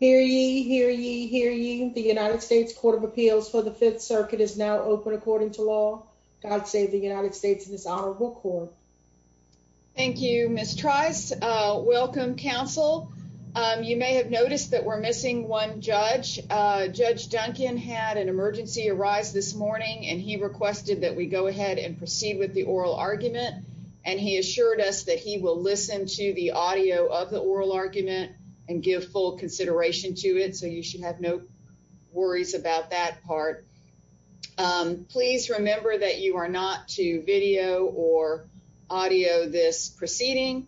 Hear ye, hear ye, hear ye. The United States Court of Appeals for the Fifth Circuit is now open according to law. God save the United States in this honorable court. Thank you, Miss Trice. Welcome, counsel. You may have noticed that we're missing one judge. Judge Duncan had an emergency arise this morning, and he requested that we go ahead and proceed with the oral argument. And he assured us that he will listen to the audio of the oral argument and give full consideration to it. So you should have no worries about that part. Please remember that you are not to video or audio this proceeding.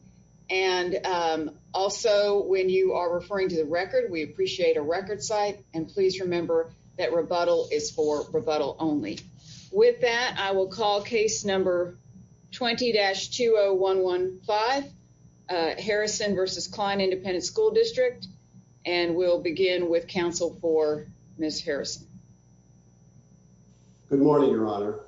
And also, when you are referring to the record, we appreciate a record site. And please remember that rebuttal is for rebuttal only. With that, I will call case number 20-20115, Harrison v. Klein Independent School District. And we'll begin with counsel for Miss Harrison. Good morning, Your Honor.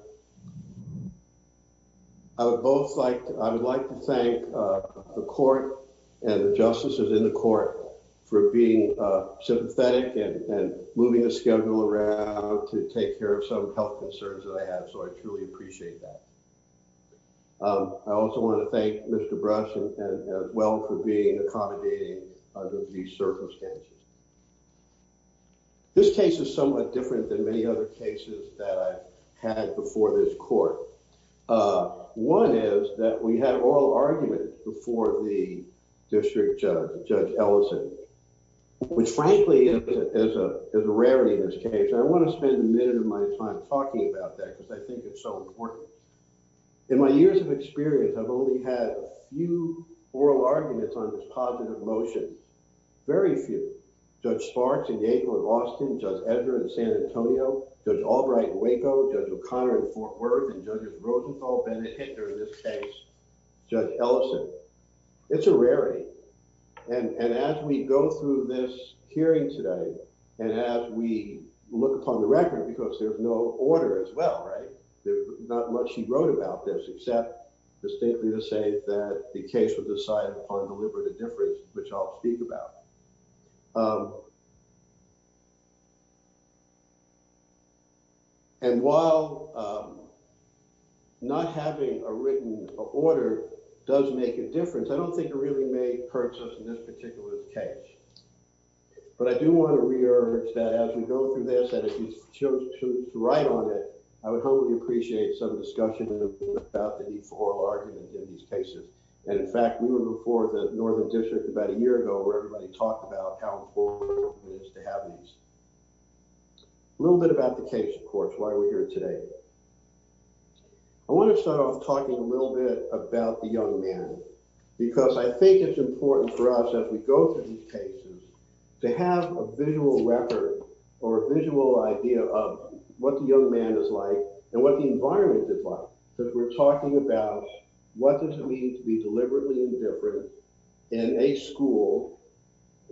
I would both like I would like to thank the court and the justices in the court for being sympathetic and moving the schedule around to take care of some health concerns that I have. So I truly appreciate that. I also want to thank Mr Brush and well for being accommodating under these circumstances. This case is somewhat different than many other cases that I've had before this court. One is that we have oral argument before the district judge, Judge Ellison, which frankly is a rarity in this case. I want to spend a minute of my time talking about that because I think it's so important. In my years of experience, I've only had a few oral arguments on this positive motion. Very few. Judge Sparks in Yale and Austin, Judge Edgar in San Antonio, Judge Albright in Waco, Judge O'Connor in Fort Worth, and Judge Rosenthal, Bennett Hitcher in this case, Judge Ellison. It's a rarity. And as we go through this hearing today and as we look upon the record, because there's no order as well, right? There's not much he wrote about this, except distinctly to say that the case was decided upon deliberate indifference, which I'll speak about. And while not having a written order does make a difference, I don't think it really may hurt us in this particular case. But I do want to re-urge that as we go through this and if you choose to write on it, I would hope you appreciate some discussion about the need for oral argument in these cases. And in fact, we were before the Northern District about a year ago where everybody talked about how important it is to have these. A little bit about the case, of course, why we're here today. I want to start off talking a little bit about the young man, because I think it's important for us as we go through these cases to have a visual record or a visual idea of what the young man is like and what the environment is like. Because we're talking about what does it mean to be deliberately indifferent in a school,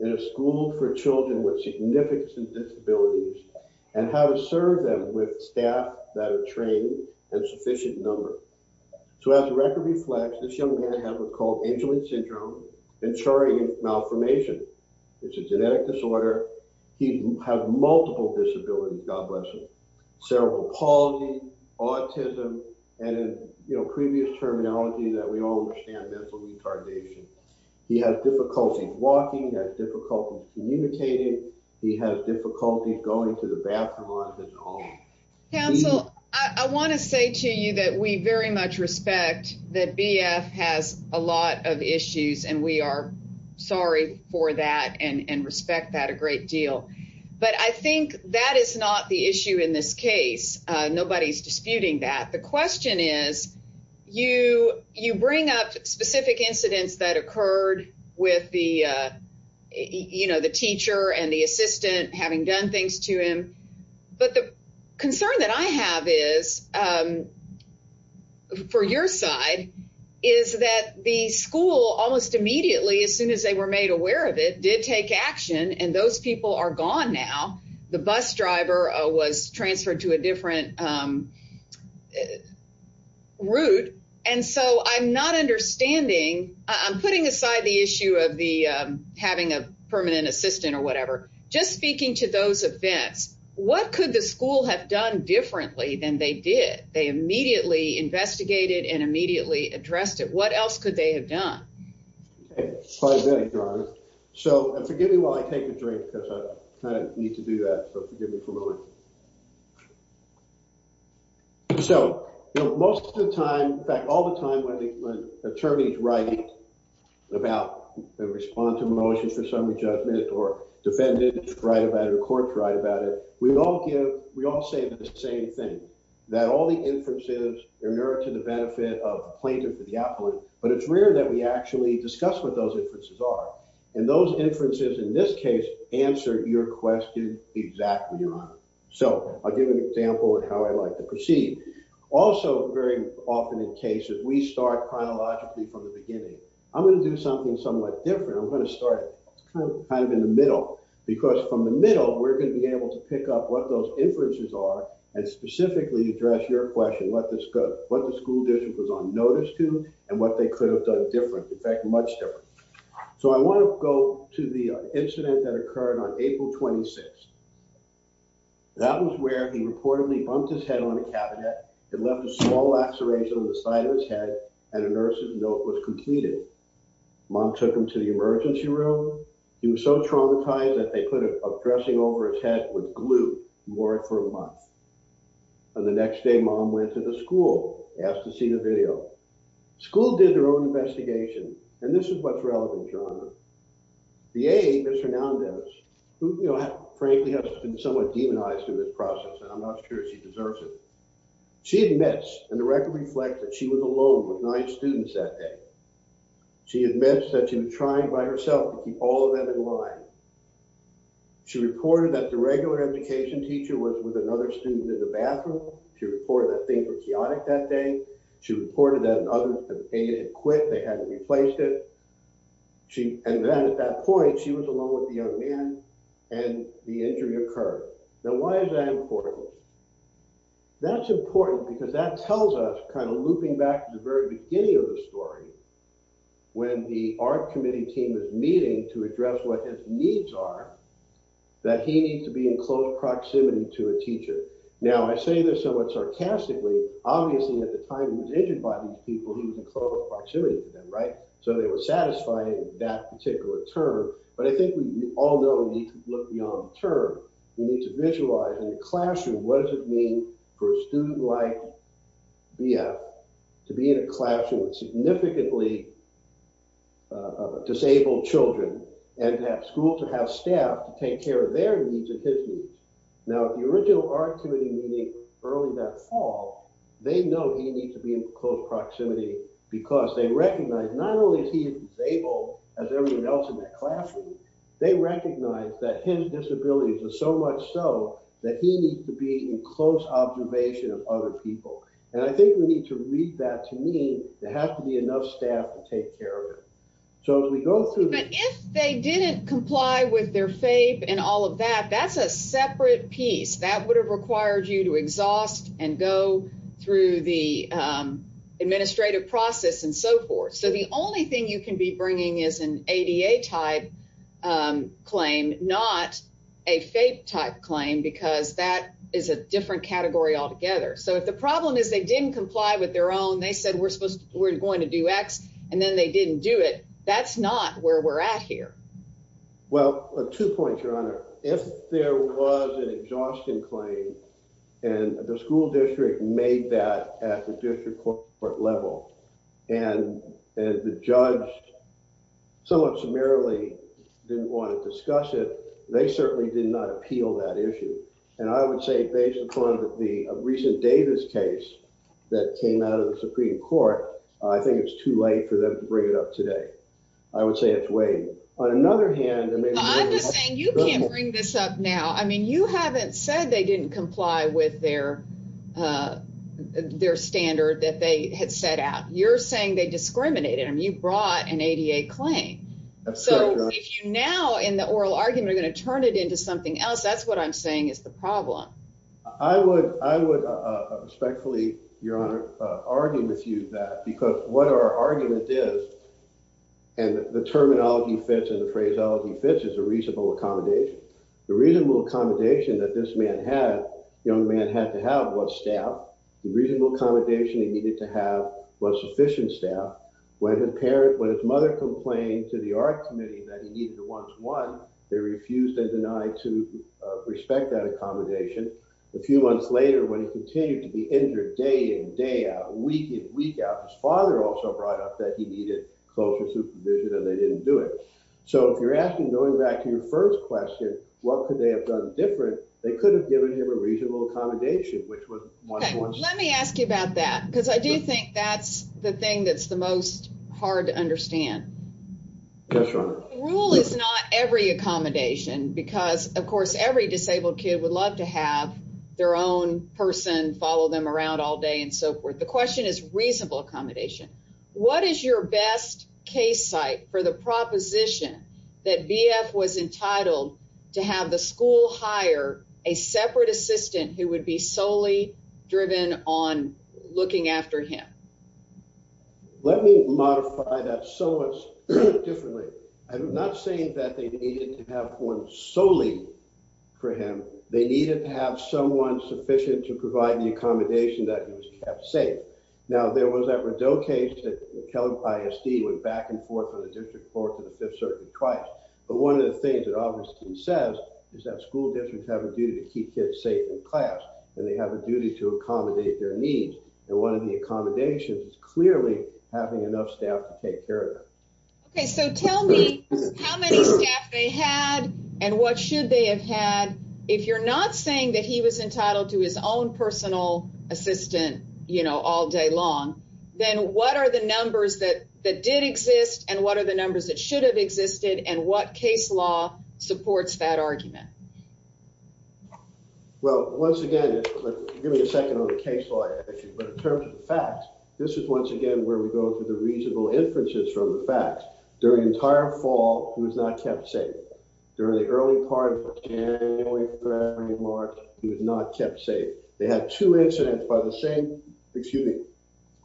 in a school for children with significant disabilities, and how to serve them with staff that are trained and sufficient number. So as the record reflects, this young man has what's called Angelin Syndrome, which is a genetic disorder. He has multiple disabilities, God bless him. Cerebral palsy, autism, and in previous terminology that we all understand, mental retardation. He has difficulty walking, he has difficulty communicating, he has difficulty going to the bathroom on his own. Counsel, I want to say to you that we very much respect that BF has a lot of issues and we are sorry for that and respect that a great deal. But I think that is not the issue in this case. Nobody's disputing that. The question is, you bring up specific incidents that occurred with the teacher and the assistant having done things to him. But the concern that I have is, for your side, is that the school almost immediately, as soon as they were made aware of it, did take action and those people are gone now. The bus driver was transferred to a different route. And so I'm not understanding, I'm putting aside the issue of having a permanent assistant or whatever. Just speaking to those events, what could the school have done differently than they did? They immediately investigated and immediately addressed it. What else could they have done? So, forgive me while I take a drink, because I kind of need to do that, so forgive me for a moment. So, most of the time, in fact all the time, when attorneys write about and respond to a motion for summary judgment or defendants write about it or courts write about it, we all say the same thing, that all the inferences are in order to the benefit of the plaintiff or the appellant, but it's rare that we actually discuss what those inferences are. And those inferences, in this case, answer your question exactly right. So, I'll give you an example of how I like to proceed. Also, very often in cases, we start chronologically from the beginning. I'm going to do something somewhat different. I'm going to start kind of in the middle. Because from the middle, we're going to be able to pick up what those inferences are and specifically address your question, what the school district was on notice to and what they could have done different, in fact, much different. So, I want to go to the incident that occurred on April 26th. That was where he reportedly bumped his head on a cabinet and left a small laceration on the side of his head and a nurse's note was completed. Mom took him to the emergency room. He was so traumatized that they put a dressing over his head with glue and wore it for a month. On the next day, mom went to the school, asked to see the video. School did their own investigation and this is what's relevant, John. The aide, Ms. Hernandez, who frankly has been somewhat demonized in this process and I'm not sure she deserves it. She admits and the record reflects that she was alone with nine students that day. She admits that she was trying by herself to keep all of them in line. She reported that the regular education teacher was with another student in the bathroom. She reported that things were chaotic that day. She reported that an oven had faded and quit. They hadn't replaced it. And then at that point, she was alone with the young man and the injury occurred. Now, why is that important? That's important because that tells us, kind of looping back to the very beginning of the story, when the art committee team is meeting to address what his needs are, that he needs to be in close proximity to a teacher. Now, I say this somewhat sarcastically. Obviously, at the time he was injured by these people, he was in close proximity to them, right? So it's satisfying that particular term. But I think we all know we need to look beyond the term. We need to visualize in the classroom what does it mean for a student like BF to be in a classroom with significantly disabled children and to have school, to have staff to take care of their needs and his needs. Now, at the original art committee meeting early that fall, they know he needs to be in close proximity because they recognize not only is he disabled, as everyone else in that classroom, they recognize that his disabilities are so much so that he needs to be in close observation of other people. And I think we need to read that to mean there has to be enough staff to take care of him. So as we go through... But if they didn't comply with their FAPE and all of that, that's a separate piece. That would have required you to exhaust and go through the administrative process and so forth. So the only thing you can be bringing is an ADA-type claim, not a FAPE-type claim, because that is a different category altogether. So if the problem is they didn't comply with their own, they said we're going to do X, and then they didn't do it, that's not where we're at here. Well, two points, Your Honor. If there was an exhaustion claim, and the school district made that at the district court level, and the judge somewhat summarily didn't want to discuss it, they certainly did not appeal that issue. And I would say based upon the recent Davis case that came out of the Supreme Court, I think it's too late for them to bring it up today. I would say it's way... On another hand... I'm just saying you can't bring this up now. I mean, you haven't said they didn't comply with their standard that they had set out. You're saying they discriminated. I mean, you brought an ADA claim. So if you now in the oral argument are going to turn it into something else, that's what I'm saying is the problem. I would respectfully, Your Honor, argue with you that, because what our argument is, and the terminology fits and the phraseology fits, is a reasonable accommodation. The reasonable accommodation that this young man had to have was staff. The reasonable accommodation he needed to have was sufficient staff. When his mother complained to the art committee that he needed a one-to-one, they refused and denied to respect that accommodation. A few months later, when he continued to be injured day in, day out, week in, week out, his father also brought up that he needed closer supervision and they didn't do it. So if you're asking, going back to your first question, what could they have done different, they could have given him a reasonable accommodation, which was one-to-one. Okay, let me ask you about that, because I do think that's the thing that's the most hard to understand. Yes, Your Honor. The rule is not every accommodation, because of course every disabled kid would love to have their own person follow them around all day and so forth. The question is reasonable accommodation. What is your best case site for the proposition that BF was entitled to have the school hire a separate assistant who would be solely driven on looking after him? Let me modify that somewhat differently. I'm not saying that they needed to have one solely for him. They needed to have someone sufficient to provide the accommodation that he was kept safe. Now, there was that Rideau case that the Kellogg ISD went back and forth from the district court to the Fifth Circuit twice. But one of the things that obviously he says is that school districts have a duty to keep kids safe in class and they have a duty to accommodate their needs. And one of the accommodations is clearly having enough staff to take care of them. Okay, so tell me how many staff they had and what should they have had. If you're not saying that he was entitled to his own personal assistant, you know, all day long, then what are the numbers that did exist and what are the numbers that should have existed and what case law supports that argument? Well, once again, give me a second on the case law. But in terms of the facts, this is once again where we go to the reasonable inferences from the facts. During the entire fall, he was not kept safe. During the early part of January, February, March, he was not kept safe. They had two incidents by the same, excuse me,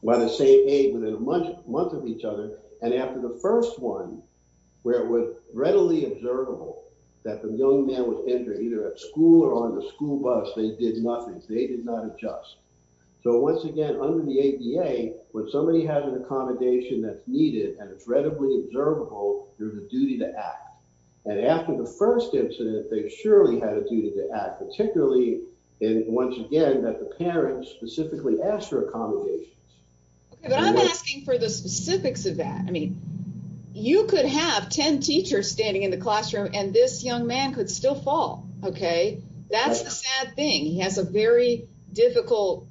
by the same age within a month of each other. And after the first one, where it was readily observable that the young man was injured either at school or on the school bus, they did nothing. They did not adjust. So once again, under the ADA, when somebody has an accommodation that's needed and it's readily observable, there's a duty to act. And after the first incident, they surely had a duty to act, particularly, and once again, that the parents specifically asked for accommodations. Okay, but I'm asking for the specifics of that. I mean, you could have 10 teachers standing in the classroom and this young man could still fall, okay? That's the sad thing. He has a very difficult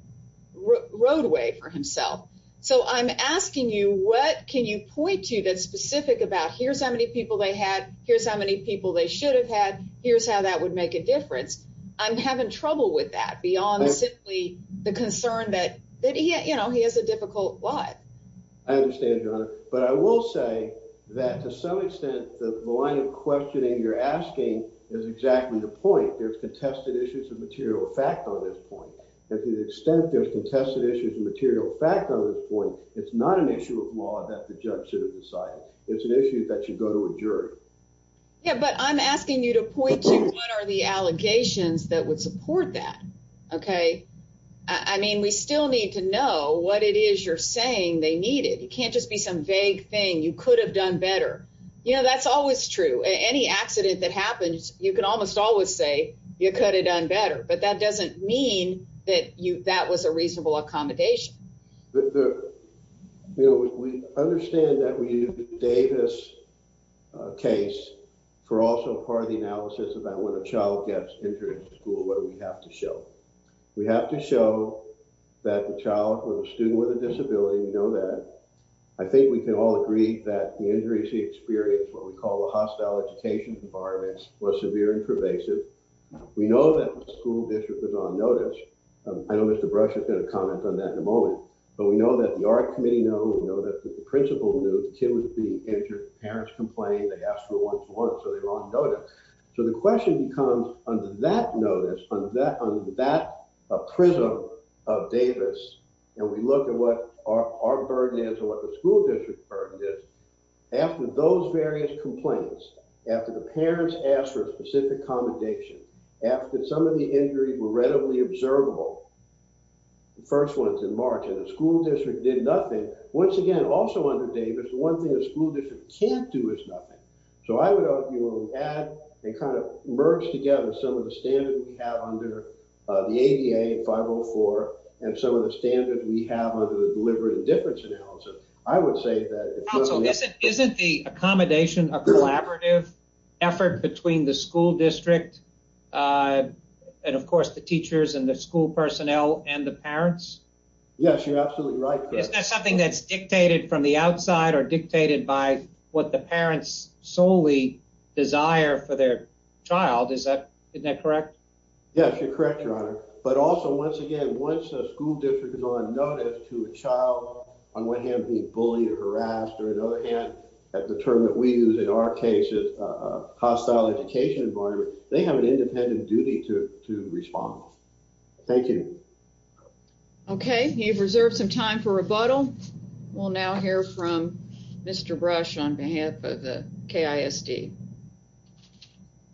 roadway for himself. So I'm asking you, what can you point to that's specific about, here's how many people they had, here's how many people they should have had, here's how that would make a difference. I'm having trouble with that beyond simply the concern that, you know, he has a difficult life. I understand, Your Honor, but I will say that to some extent, the line of questioning you're asking is exactly the point. There's contested issues of material fact on this point. To the extent there's contested issues of material fact on this point, it's not an issue of law that the judge should have decided. It's an issue that should go to a jury. Yeah, but I'm asking you to point to what are the allegations that would support that, okay? I mean, we still need to know what it is you're saying they needed. It can't just be some vague thing. You could have done better. You know, that's always true. Any accident that happens, you can almost always say, you could have done better. But that doesn't mean that that was a reasonable accommodation. You know, we understand that we use the Davis case for also part of the analysis about when a child gets injured in school, what do we have to show? We have to show that the child or the student with a disability, we know that. I think we can all agree that the injuries he experienced, what we call a hostile education environment, was severe and pervasive. We know that the school district was on notice. I know Mr. Brush is going to comment on that in a moment, but we know that the art committee knows, we know that the principal knew the kid was being injured. Parents complained, they asked for a one-to-one, so they're on notice. So the question becomes under that notice, under that prism of Davis, and we look at what our burden is or what the school district burden is, after those various complaints, after the parents asked for a specific accommodation, after some of the injuries were readily observable, the first ones in March, and the school district did nothing, once again, also under Davis, the one thing the school district can't do is nothing. So I would argue when we add and kind of merge together some of the standards we have under the ADA 504 and some of the standards we have under the deliberate indifference analysis, I would say that... Counsel, isn't the accommodation a collaborative effort between the school district and of course the teachers and the school personnel and the parents? Yes, you're absolutely right. Isn't that something that's dictated from the outside or dictated by what the parents solely desire for their child? Isn't that correct? Yes, you're correct, Your Honor. But also, once again, once a school district is on notice of being bullied or harassed, or on the other hand, that's a term that we use in our case as a hostile education environment, they have an independent duty to respond. Thank you. Okay, you've reserved some time for rebuttal. We'll now hear from Mr. Brush on behalf of the KISD.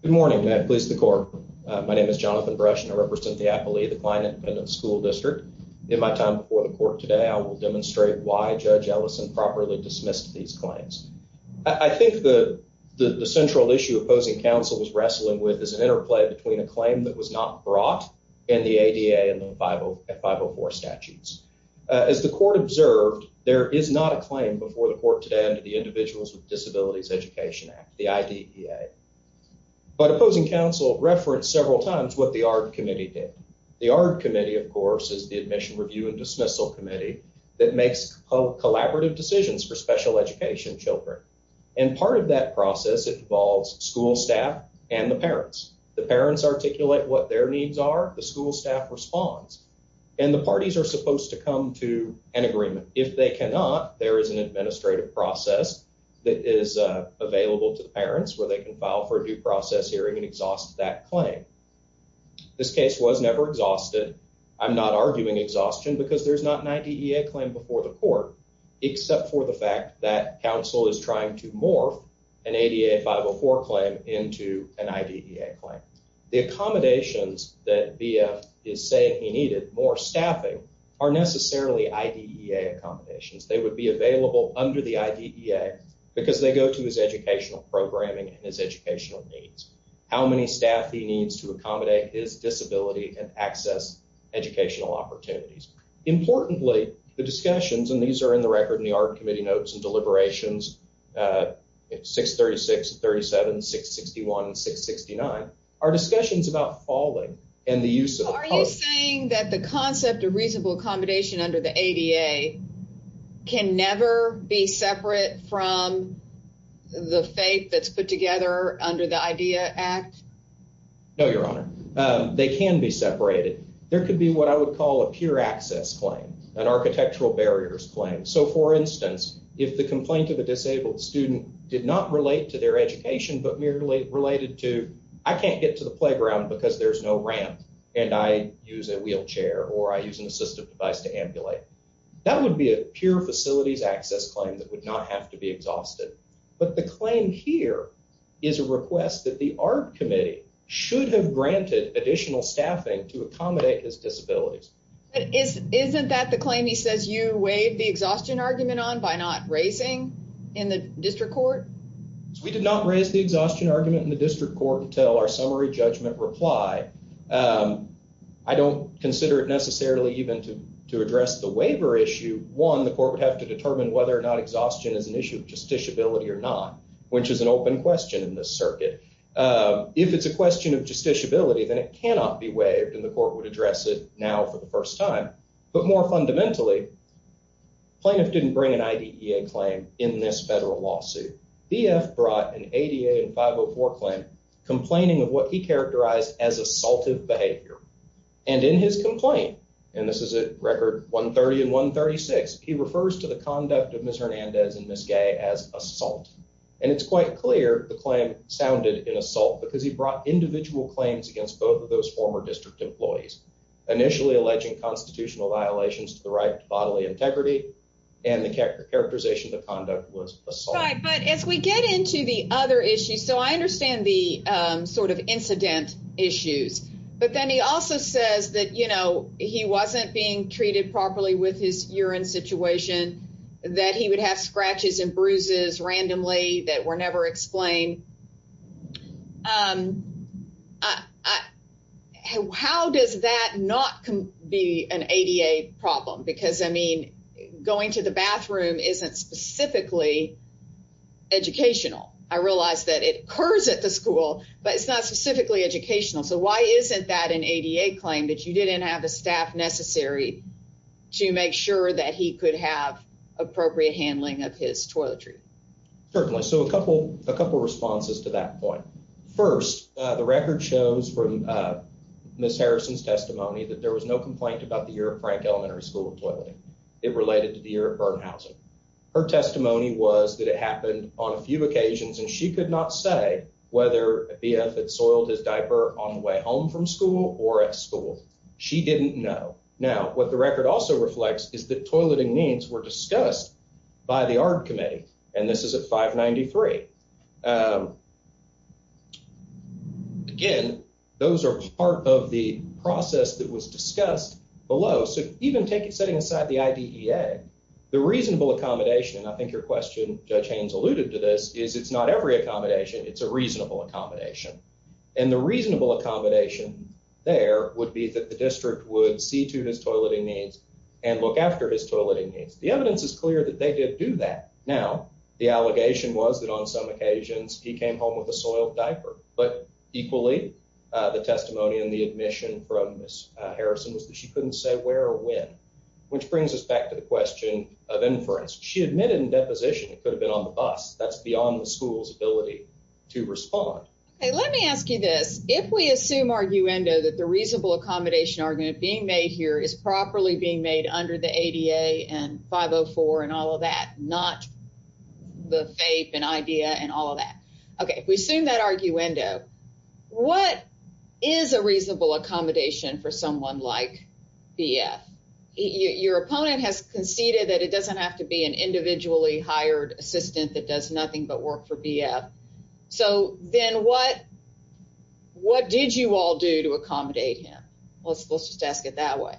Good morning. May I please the court? My name is Jonathan Brush and I represent the Appalachia Client Independent School District. In my time before the court today, I will demonstrate why Judge Ellison properly dismissed these claims. I think the central issue opposing counsel was wrestling with is an interplay between a claim that was not brought and the ADA and the 504 statutes. As the court observed, there is not a claim before the court today under the Individuals with Disabilities Education Act, the IDEA. But opposing counsel referenced several times what the ARD Committee did. The ARD Committee, of course, is the Admission Review and Dismissal Committee that makes collaborative decisions for special education children. And part of that process involves school staff and the parents. The parents articulate what their needs are, the school staff responds, and the parties are supposed to come to an agreement. If they cannot, there is an administrative process that is available to the parents where they can file for a due process hearing and exhaust that claim. This case was never exhausted. I'm not arguing exhaustion because there's not an IDEA claim before the court, except for the fact that counsel is trying to morph an ADA 504 claim into an IDEA claim. The accommodations that BF is saying he needed, more staffing, are necessarily IDEA accommodations. They would be available under the IDEA because they go to his educational programming and his educational needs. How many staff he needs to accommodate his disability and access educational opportunities. Importantly, the discussions, and these are in the record in the Art Committee notes and deliberations, 636, 37, 661, 669, are discussions about falling and the use of a post. Are you saying that the concept of reasonable accommodation under the ADA can never be separate from the faith that's put together under the IDEA Act? No, Your Honor. They can be separated. There could be what I would call a pure access claim, an architectural barriers claim. So for instance, if the complaint of a disabled student did not relate to their education but merely related to I can't get to the playground because there's no ramp and I use a wheelchair or I use an assistive device to ambulate. That would be a pure facilities access claim and there is a request that the Art Committee should have granted additional staffing to accommodate his disabilities. Isn't that the claim he says you waived the exhaustion argument on by not raising in the district court? We did not raise the exhaustion argument in the district court until our summary judgment reply. I don't consider it necessarily even to address the waiver issue. One, the court would have to determine whether or not exhaustion is an issue of justiciability or not, which is an open question in this circuit. If it's a question of justiciability, then it cannot be waived and the court would address it now for the first time. But more fundamentally, plaintiff didn't bring an IDEA claim in this federal lawsuit. DF brought an ADA and 504 claim complaining of what he characterized as assaultive behavior. And in his complaint, and this is a record 130 and 136, he refers to the conduct of Ms. Hernandez and Ms. Gay as assault. And it's quite clear the claim sounded in assault because he brought individual claims against both of those former district employees, initially alleging constitutional violations to the right to bodily integrity and the characterization of the conduct was assault. But as we get into the other issues, so I understand the sort of incident issues, but then he also says that, you know, he wasn't being treated properly with his urine situation, that he would have scratches and bruises randomly that were never explained. How does that not be an ADA problem? Because, I mean, going to the bathroom isn't specifically educational. I realize that it occurs at the school, but it's not specifically educational. So why isn't that an ADA claim that you didn't have a staff necessary to make sure that he could have appropriate handling of his toiletry? Certainly. So a couple of responses to that point. First, the record shows from Ms. Harrison's testimony that there was no complaint about the year of Frank Elementary School of Toileting. It related to the year of burn housing. Her testimony was that it happened on a few occasions and she could not say whether a BF had soiled his diaper on the way home from school or at school. She didn't know. Now, what the record also reflects is that there were complaints that were discussed by the ARB committee, and this is at 593. Again, those are part of the process that was discussed below. So even setting aside the IDEA, the reasonable accommodation, and I think your question, Judge Haynes, alluded to this, is it's not every accommodation, it's a reasonable accommodation. And the reasonable accommodation there would be that the district would see to his toileting needs and look after his toileting needs. The evidence is clear that they did do that. Now, the allegation was that on some occasions he came home with a soiled diaper. But equally, the testimony and the admission from Ms. Harrison was that she couldn't say where or when, which brings us back to the question of inference. She admitted in deposition it could have been on the bus. That's beyond the school's ability to respond. Okay, let me ask you this. If we assume arguendo that the reasonable accommodation argument being made here is properly being made under the ADA and 504 and all of that, not the FAPE and IDEA and all of that. Okay, if we assume that arguendo, what is a reasonable accommodation for someone like BF? Your opponent has conceded that it doesn't have to be an individually hired assistant that does nothing but work for BF. So then what did you all do to accommodate him? Let's just ask it that way.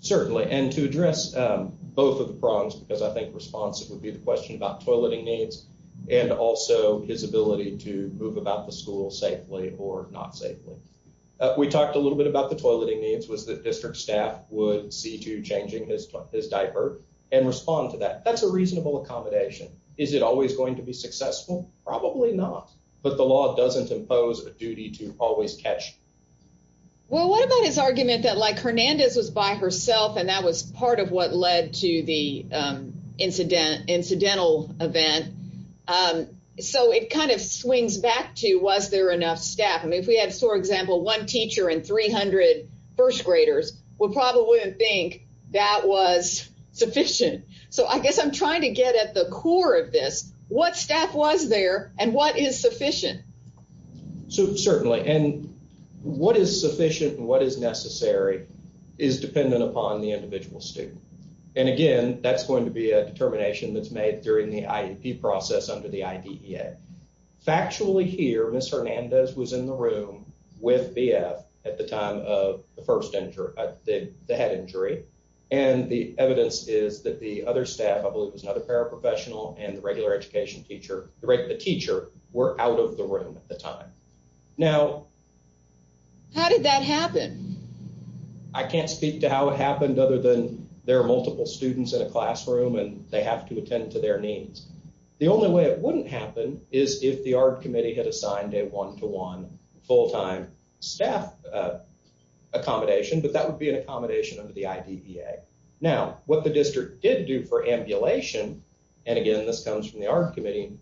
Certainly. And to address both of the problems, because I think responsive would be the question about toileting needs and also his ability to move about the school safely or not safely. We talked a little bit about the toileting needs, was that district staff would see to changing his diaper and respond to that. That's a reasonable accommodation. Is it always going to be successful? Probably not. Well, what about his argument that like Hernandez was by herself and that was part of what led to the incidental event? So it kind of swings back to was there enough staff? I mean, if we had, for example, one teacher and 300 first graders would probably wouldn't think that was sufficient. So I guess I'm trying to get at the core of this. What staff was there and what is sufficient? And what is necessary is dependent upon the individual student. And again, that's going to be a determination that's made during the IEP process under the IDEA. Factually here, Miss Hernandez was in the room with BF at the time of the first injury, the head injury. And the evidence is that the other staff, I believe was another paraprofessional and the regular education teacher, the teacher were out of the room at the time. Now. How did that happen? I can't speak to how it happened other than there are multiple students in a classroom and they have to attend to their needs. The only way it wouldn't happen is if the art committee had assigned a one to one full time staff accommodation. But that would be an accommodation under the IDEA. Now, what the district did do for ambulation. And again, this comes from the art committee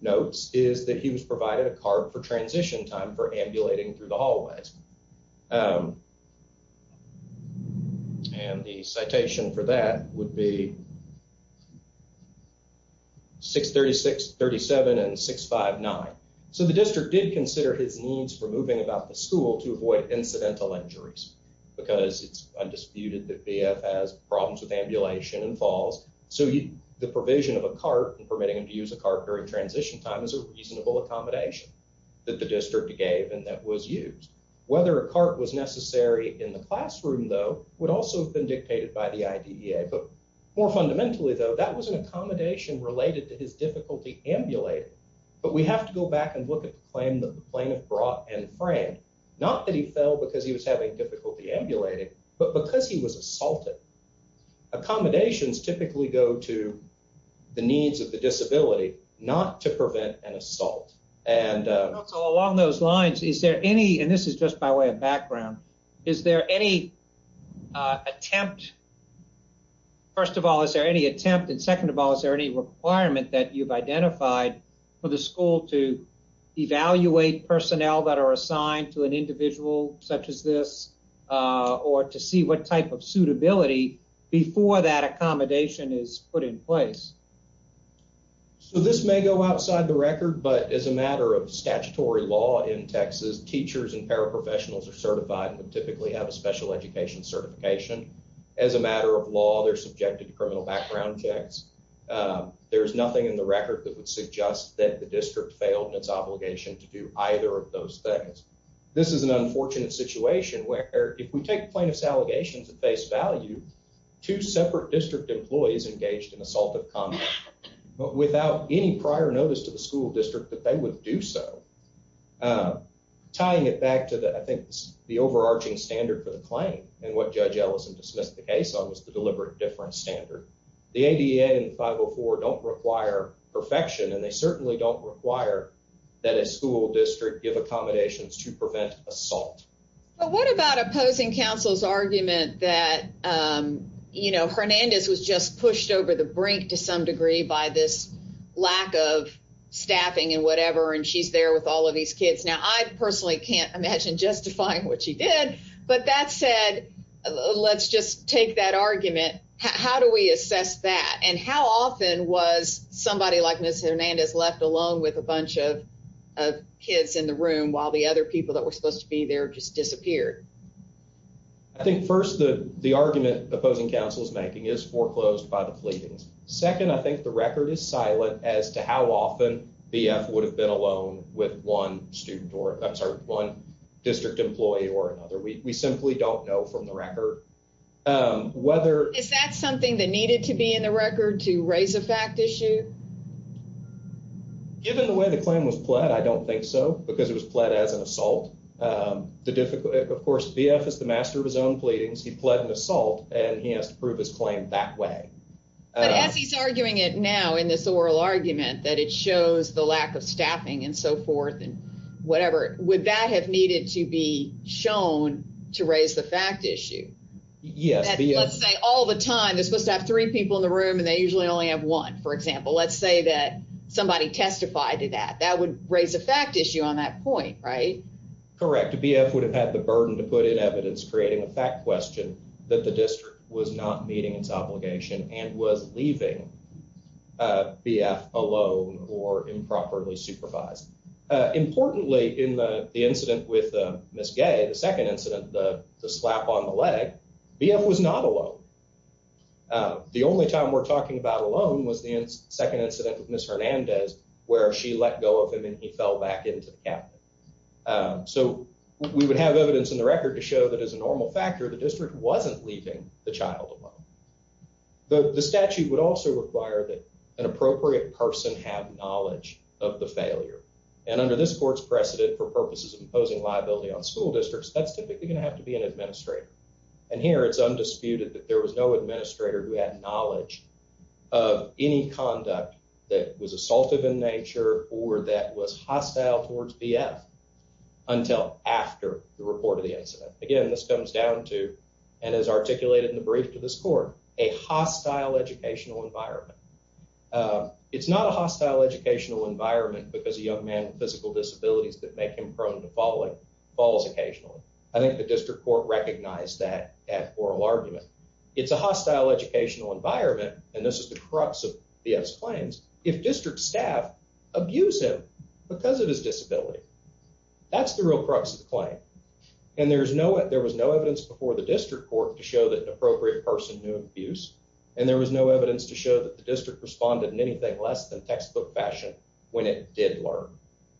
notes is that he was provided a cart for transition time for ambulating through the hallways. And the citation for that would be. 636, 37 and 659. So the district did consider his needs for moving about the school to avoid incidental injuries because it's undisputed that BF has problems with ambulation and falls. So the provision of a cart and permitting him to use a cart was a reasonable accommodation that the district gave and that was used. Whether a cart was necessary in the classroom, though, would also have been dictated by the IDEA. But more fundamentally, though, that was an accommodation related to his difficulty ambulating. But we have to go back and look at the claim that the plaintiff brought and framed, not that he fell because he was having difficulty ambulating, but because he was assaulted. Accommodations typically go to the needs of the disability and not the assault. And along those lines, is there any, and this is just by way of background, is there any attempt? First of all, is there any attempt? And second of all, is there any requirement that you've identified for the school to evaluate personnel that are assigned to an individual such as this or to see what type of suitability before that accommodation is put in place? But as a matter of statutory law in Texas, teachers and paraprofessionals are certified and typically have a special education certification. As a matter of law, they're subjected to criminal background checks. There's nothing in the record that would suggest that the district failed in its obligation to do either of those things. This is an unfortunate situation where if we take plaintiff's allegations at face value, two separate district employees engaged in assaultive conduct in a school district, that they would do so. Tying it back to the, I think the overarching standard for the claim and what Judge Ellison dismissed the case on was the deliberate difference standard. The ADA and 504 don't require perfection and they certainly don't require that a school district give accommodations to prevent assault. But what about opposing counsel's argument that, you know, Hernandez was just pushed over the brink to some degree by this and whatever and she's there with all of these kids. Now I personally can't imagine justifying what she did, but that said, let's just take that argument. How do we assess that? And how often was somebody like Ms. Hernandez left alone with a bunch of kids in the room while the other people that were supposed to be there just disappeared? I think first the argument opposing counsel's making would have been alone with one student or, I'm sorry, one district employee or another. We simply don't know from the record whether... Is that something that needed to be in the record to raise a fact issue? Given the way the claim was pled, I don't think so because it was pled as an assault. Of course, BF is the master of his own pleadings. He pled an assault and he has to prove his claim that way. But as he's arguing it now and he's staffing and so forth and whatever, would that have needed to be shown to raise the fact issue? Let's say all the time they're supposed to have three people in the room and they usually only have one, for example. Let's say that somebody testified to that. That would raise a fact issue on that point, right? Correct. BF would have had the burden to put in evidence creating a fact question that the district was not meeting its obligation and was leaving BF alone or improperly supervised. Importantly, in the incident with Ms. Gay, the second incident, the slap on the leg, BF was not alone. The only time we're talking about alone was the second incident with Ms. Hernandez where she let go of him and he fell back into the cabin. So we would have evidence in the record to show that as a normal factor, the district wasn't leaving the child alone. The statute would also require that an appropriate person have knowledge of the failure. And under this court's precedent for purposes of imposing liability on school districts, that's typically going to have to be an administrator. And here it's undisputed that there was no administrator who had knowledge of any conduct that was assaultive in nature or that was hostile towards BF until after the report of the incident. Again, this comes down to, and is articulated in the brief to this court, a hostile educational environment for a young man. It's not a hostile educational environment because a young man with physical disabilities that make him prone to falling falls occasionally. I think the district court recognized that at oral argument. It's a hostile educational environment, and this is the crux of BF's claims, if district staff abuse him because of his disability. That's the real crux of the claim. And there was no evidence before the district court to show that an appropriate person responded in anything less than textbook fashion when it did learn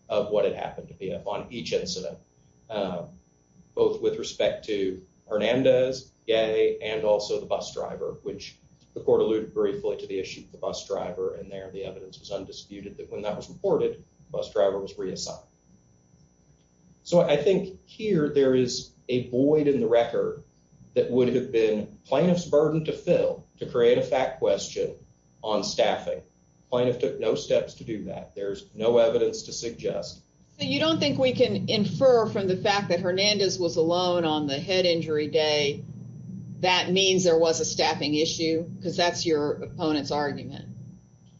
of what had happened to BF on each incident, both with respect to Hernandez, Gay, and also the bus driver, which the court alluded briefly to the issue of the bus driver, and there the evidence was undisputed that when that was reported, the bus driver was reassigned. So I think here there is a void in the record that would have been plaintiff's burden to fill to create a fact question about staffing. Plaintiff took no steps to do that. There's no evidence to suggest. So you don't think we can infer from the fact that Hernandez was alone on the head injury day that means there was a staffing issue because that's your opponent's argument?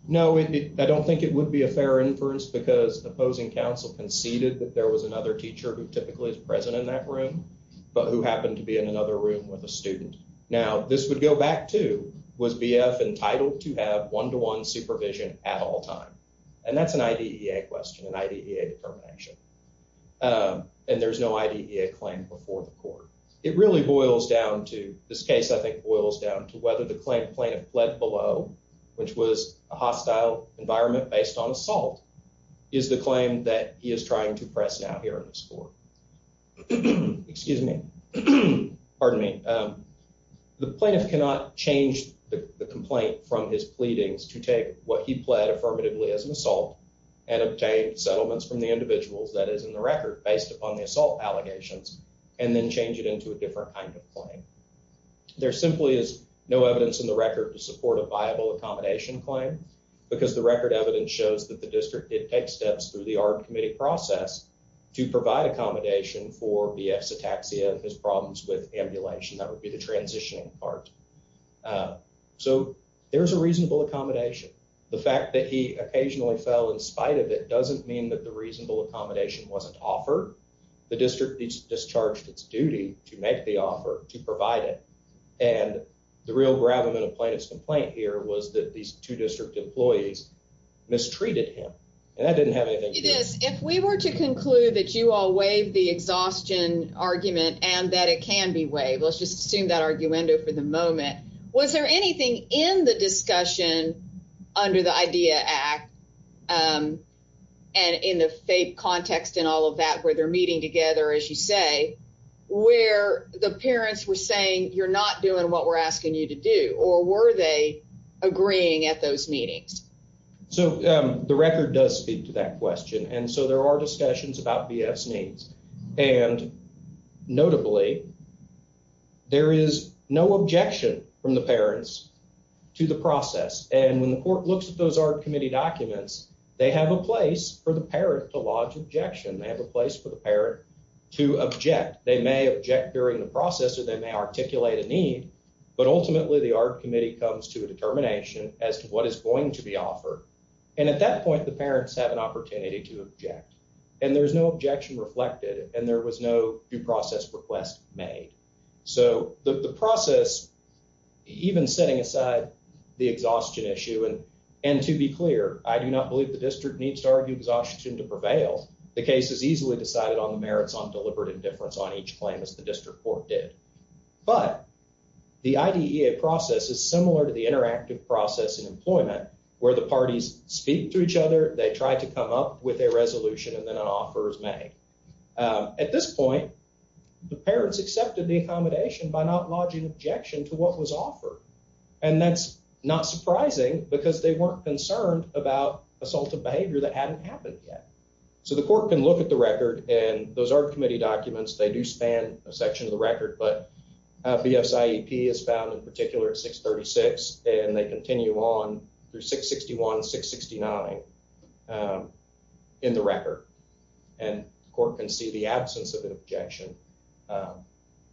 No, I don't think it would be a fair inference because opposing counsel conceded that there was another teacher who typically is present in that room, but who happened to be in another room with a student. Now, this would go back to, was BF entitled to have one-to-one supervision at all time? And that's an IDEA question, an IDEA determination. And there's no IDEA claim before the court. It really boils down to, this case I think boils down to whether the plaintiff fled below, which was a hostile environment based on assault, is the claim that he is trying to press now here in this court. Excuse me. The plaintiff cannot change the complaint from his pleadings to take what he pled affirmatively as an assault and obtain settlements from the individuals that is in the record based upon the assault allegations and then change it into a different kind of claim. There simply is no evidence in the record to support a viable accommodation claim because the record evidence shows that the district did take steps through the ARD committee process to provide accommodation for BF Cetaxia and his problems with ambulation. That would be the transitioning part. So there's a reasonable accommodation. The fact that he occasionally fell in spite of it doesn't mean that the reasonable accommodation wasn't offered. The district discharged its duty to make the offer, to provide it. And the real gravamen of plaintiff's complaint here was that these two district employees mistreated him. And that didn't have anything to do... It is. If we were to conclude that you all waived the exhaustion argument and that it can be waived. Let's just assume that arguendo for the moment. Was there anything in the discussion under the IDEA Act and in the FAPE context and all of that where they're meeting together as you say, where the parents were saying you're not doing what we're asking you to do or were they agreeing at those meetings? So the record does speak to that question. So there are discussions about BF's needs. And notably, there is no objection from the parents to the process. And when the court looks at those Art Committee documents, they have a place for the parent to lodge objection. They have a place for the parent to object. They may object during the process or they may articulate a need. But ultimately the Art Committee comes to a determination as to what is going to be offered. And at that point, the parents have an opportunity to object and there is no objection reflected and there was no due process request made. So the process, even setting aside the exhaustion issue and to be clear, I do not believe the district needs to argue exhaustion to prevail. The case is easily decided on the merits on deliberate indifference on each claim as the district court did. But the IDEA process is similar to the interactive process where the parties speak to each other, they try to come up with a resolution and then an offer is made. At this point, the parents accepted the accommodation by not lodging objection to what was offered. And that is not surprising because they were not concerned about assaultive behavior that had not happened yet. So the court can look at the record and those Art Committee documents, they do span a section of the record but BSIEP is found in particular at 636 and they continue on to 669 in the record. And the court can see the absence of an objection.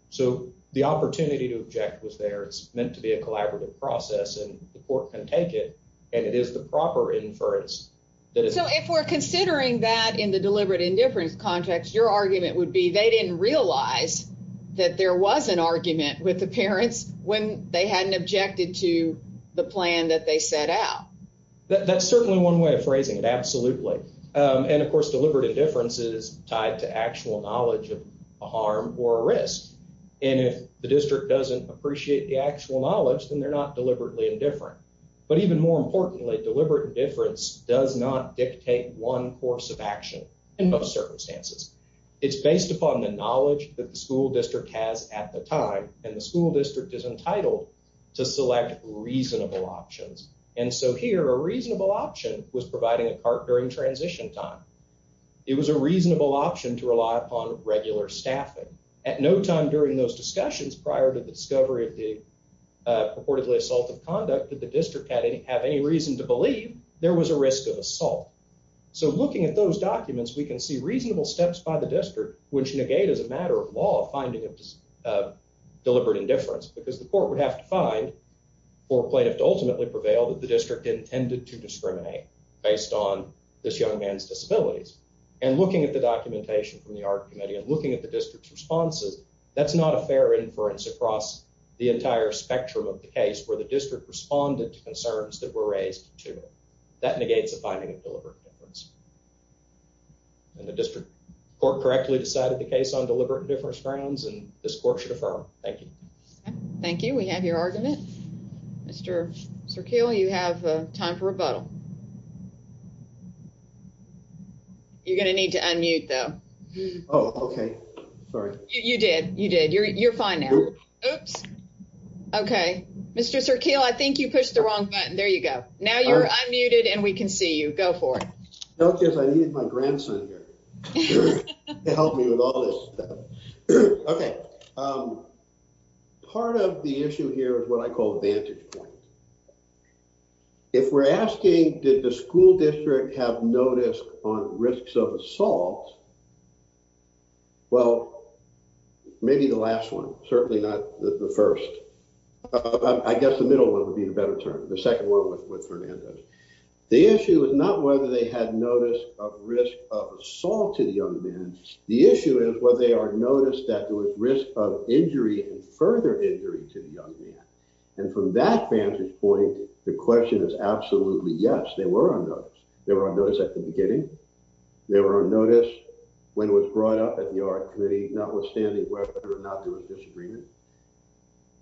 So the opportunity to object was there. It's meant to be a collaborative process and the court can take it and it is the proper inference. So if we're considering that in the deliberate indifference context, your argument would be they didn't realize that there was an argument with the parents when they hadn't objected to the plan that they set out. That's certainly one way of phrasing it, absolutely. And of course, deliberate indifference is tied to actual knowledge of a harm or a risk. And if the district doesn't appreciate the actual knowledge, then they're not deliberately indifferent. But even more importantly, deliberate indifference does not dictate one course of action in most circumstances. It's based upon the knowledge that the school district has at the time of reasonable options. And so here, a reasonable option was providing a cart during transition time. It was a reasonable option to rely upon regular staffing. At no time during those discussions prior to the discovery of the purportedly assaultive conduct did the district have any reason to believe there was a risk of assault. So looking at those documents, we can see reasonable steps by the district which negate as a matter of law finding of deliberate indifference because the court would have to find and the plaintiff to ultimately prevail that the district intended to discriminate based on this young man's disabilities. And looking at the documentation from the art committee and looking at the district's responses, that's not a fair inference across the entire spectrum of the case where the district responded to concerns that were raised to it. That negates the finding of deliberate indifference. And the district court correctly decided the case on deliberate indifference grounds and this court should affirm. Thank you. Thank you, Mr. Serkeel. You have time for rebuttal. You're going to need to unmute, though. Oh, okay. Sorry. You did. You did. You're fine now. Oops. Okay. Mr. Serkeel, I think you pushed the wrong button. There you go. Now you're unmuted and we can see you. Go for it. No, because I needed my grandson here to help me with all this stuff. Okay. Part of the issue here if we're asking, did the school district have notice on risks of assault? Well, maybe the last one, certainly not the first. I guess the middle one would be a better term. The second one was with Fernandez. The issue is not whether they had notice of risk of assault to the young men. The issue is whether they are noticed that there was risk of injury and further injury to the young man. And from that vantage point, the question is absolutely yes, they were on notice. They were on notice at the beginning. They were on notice when it was brought up at the Art Committee, notwithstanding whether or not there was disagreement.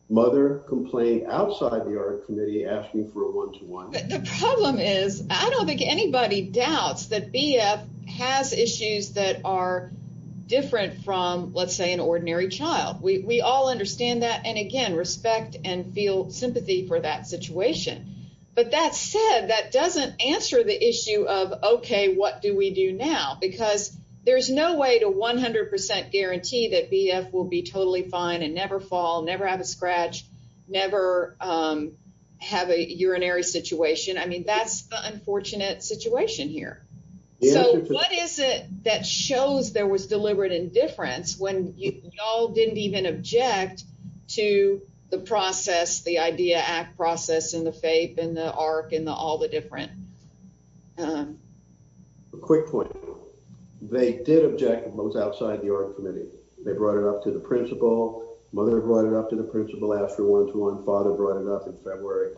Mother complained outside the Art Committee asking for a one-to-one. The problem is, I don't think anybody doubts that BF has issues that are different from, let's say, an ordinary child. We all understand that. We feel sympathy for that situation. But that said, that doesn't answer the issue of, okay, what do we do now? Because there's no way to 100 percent guarantee that BF will be totally fine and never fall, never have a scratch, never have a urinary situation. I mean, that's the unfortunate situation here. So what is it that shows there was deliberate indifference when you all didn't even object to the process the IDEA Act process and the FAPE and the ARC and all the different... A quick point. They did object when it was outside the Art Committee. They brought it up to the principal. Mother brought it up to the principal after a one-to-one. Father brought it up in February.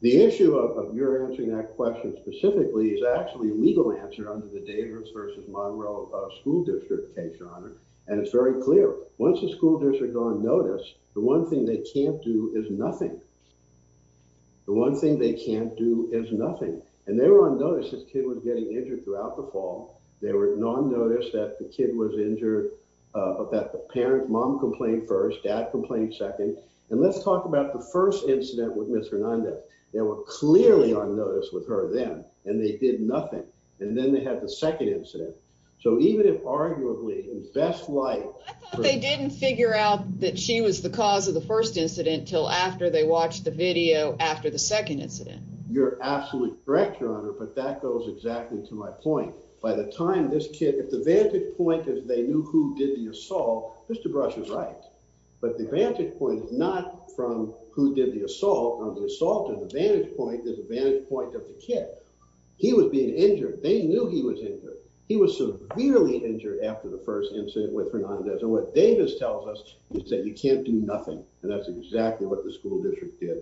The issue of your answering that question specifically is actually a legal answer under the Davis v. Monroe school district case, Your Honor. And it's very clear. They did nothing. The one thing they can't do is nothing. And they were unnoticed as the kid was getting injured throughout the fall. They were non-noticed that the kid was injured but that the parent, mom complained first, dad complained second. And let's talk about the first incident with Ms. Hernandez. They were clearly unnoticed with her then and they did nothing. And then they had the second incident. So even if arguably in best light... I thought they didn't figure out after they watched the video after the second incident. You're absolutely correct, Your Honor. But that goes exactly to my point. By the time this kid... If the vantage point is they knew who did the assault, Mr. Brush is right. But the vantage point is not from who did the assault. On the assault, the vantage point is the vantage point of the kid. He was being injured. They knew he was injured. He was severely injured after the first incident with Hernandez. And what Davis tells us is that they knew who did the assault. That's what the district did.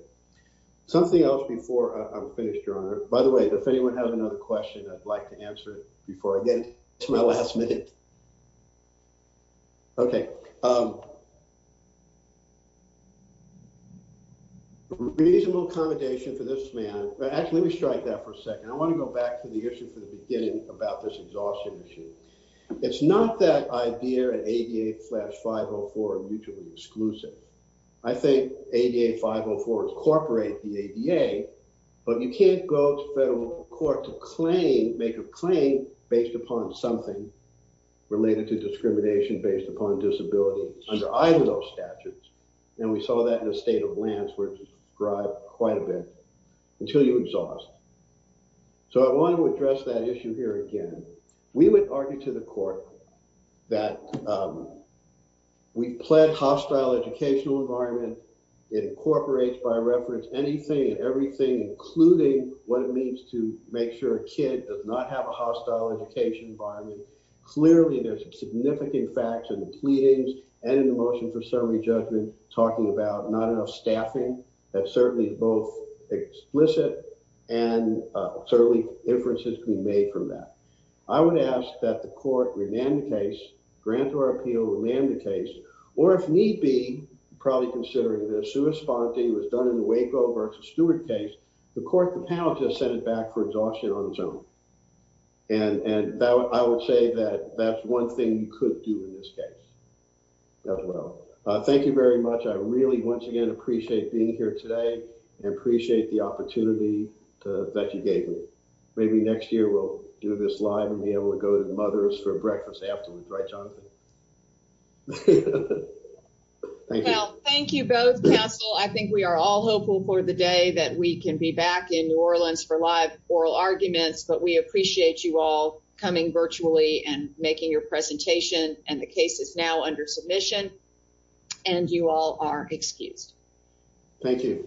Something else before I'm finished, Your Honor. By the way, if anyone has another question, I'd like to answer it before I get to my last minute. Okay. Reasonable accommodation for this man... Actually, let me strike that for a second. I want to go back to the issue from the beginning about this exhaustion issue. It's not that IDEA and ADA Flash 504 are mutually exclusive. I think ADA 504 incorporate the ADA, but you can't go to federal court to claim, make a claim based upon something related to discrimination based upon disability under either of those statutes. And we saw that in the state of Lantz where it's described quite a bit until you exhaust. So I want to address that issue here again. We would argue to the court that we've pled hostile education in the educational environment. It incorporates by reference anything and everything, including what it means to make sure a kid does not have a hostile education environment. Clearly, there's some significant facts in the pleadings and in the motion for summary judgment talking about not enough staffing that certainly is both explicit and certainly inferences can be made from that. I would ask that the court remand the case, grant or appeal, the court to remand the case or if need be, probably considering that a sui sponte was done in the Waco versus Stewart case, the court could have just sent it back for exhaustion on its own. And I would say that that's one thing you could do in this case as well. Thank you very much. I really, once again, appreciate being here today and appreciate the opportunity that you gave me. Maybe next year we'll do this live and be able to go to the mother's for breakfast afterwards. Right, Jonathan? Thank you. Well, thank you both, counsel. I think we are all hopeful for the day that we can be back in New Orleans for live oral arguments. But we appreciate you all coming virtually and making your presentation and the case is now under submission and you all are excused. Thank you.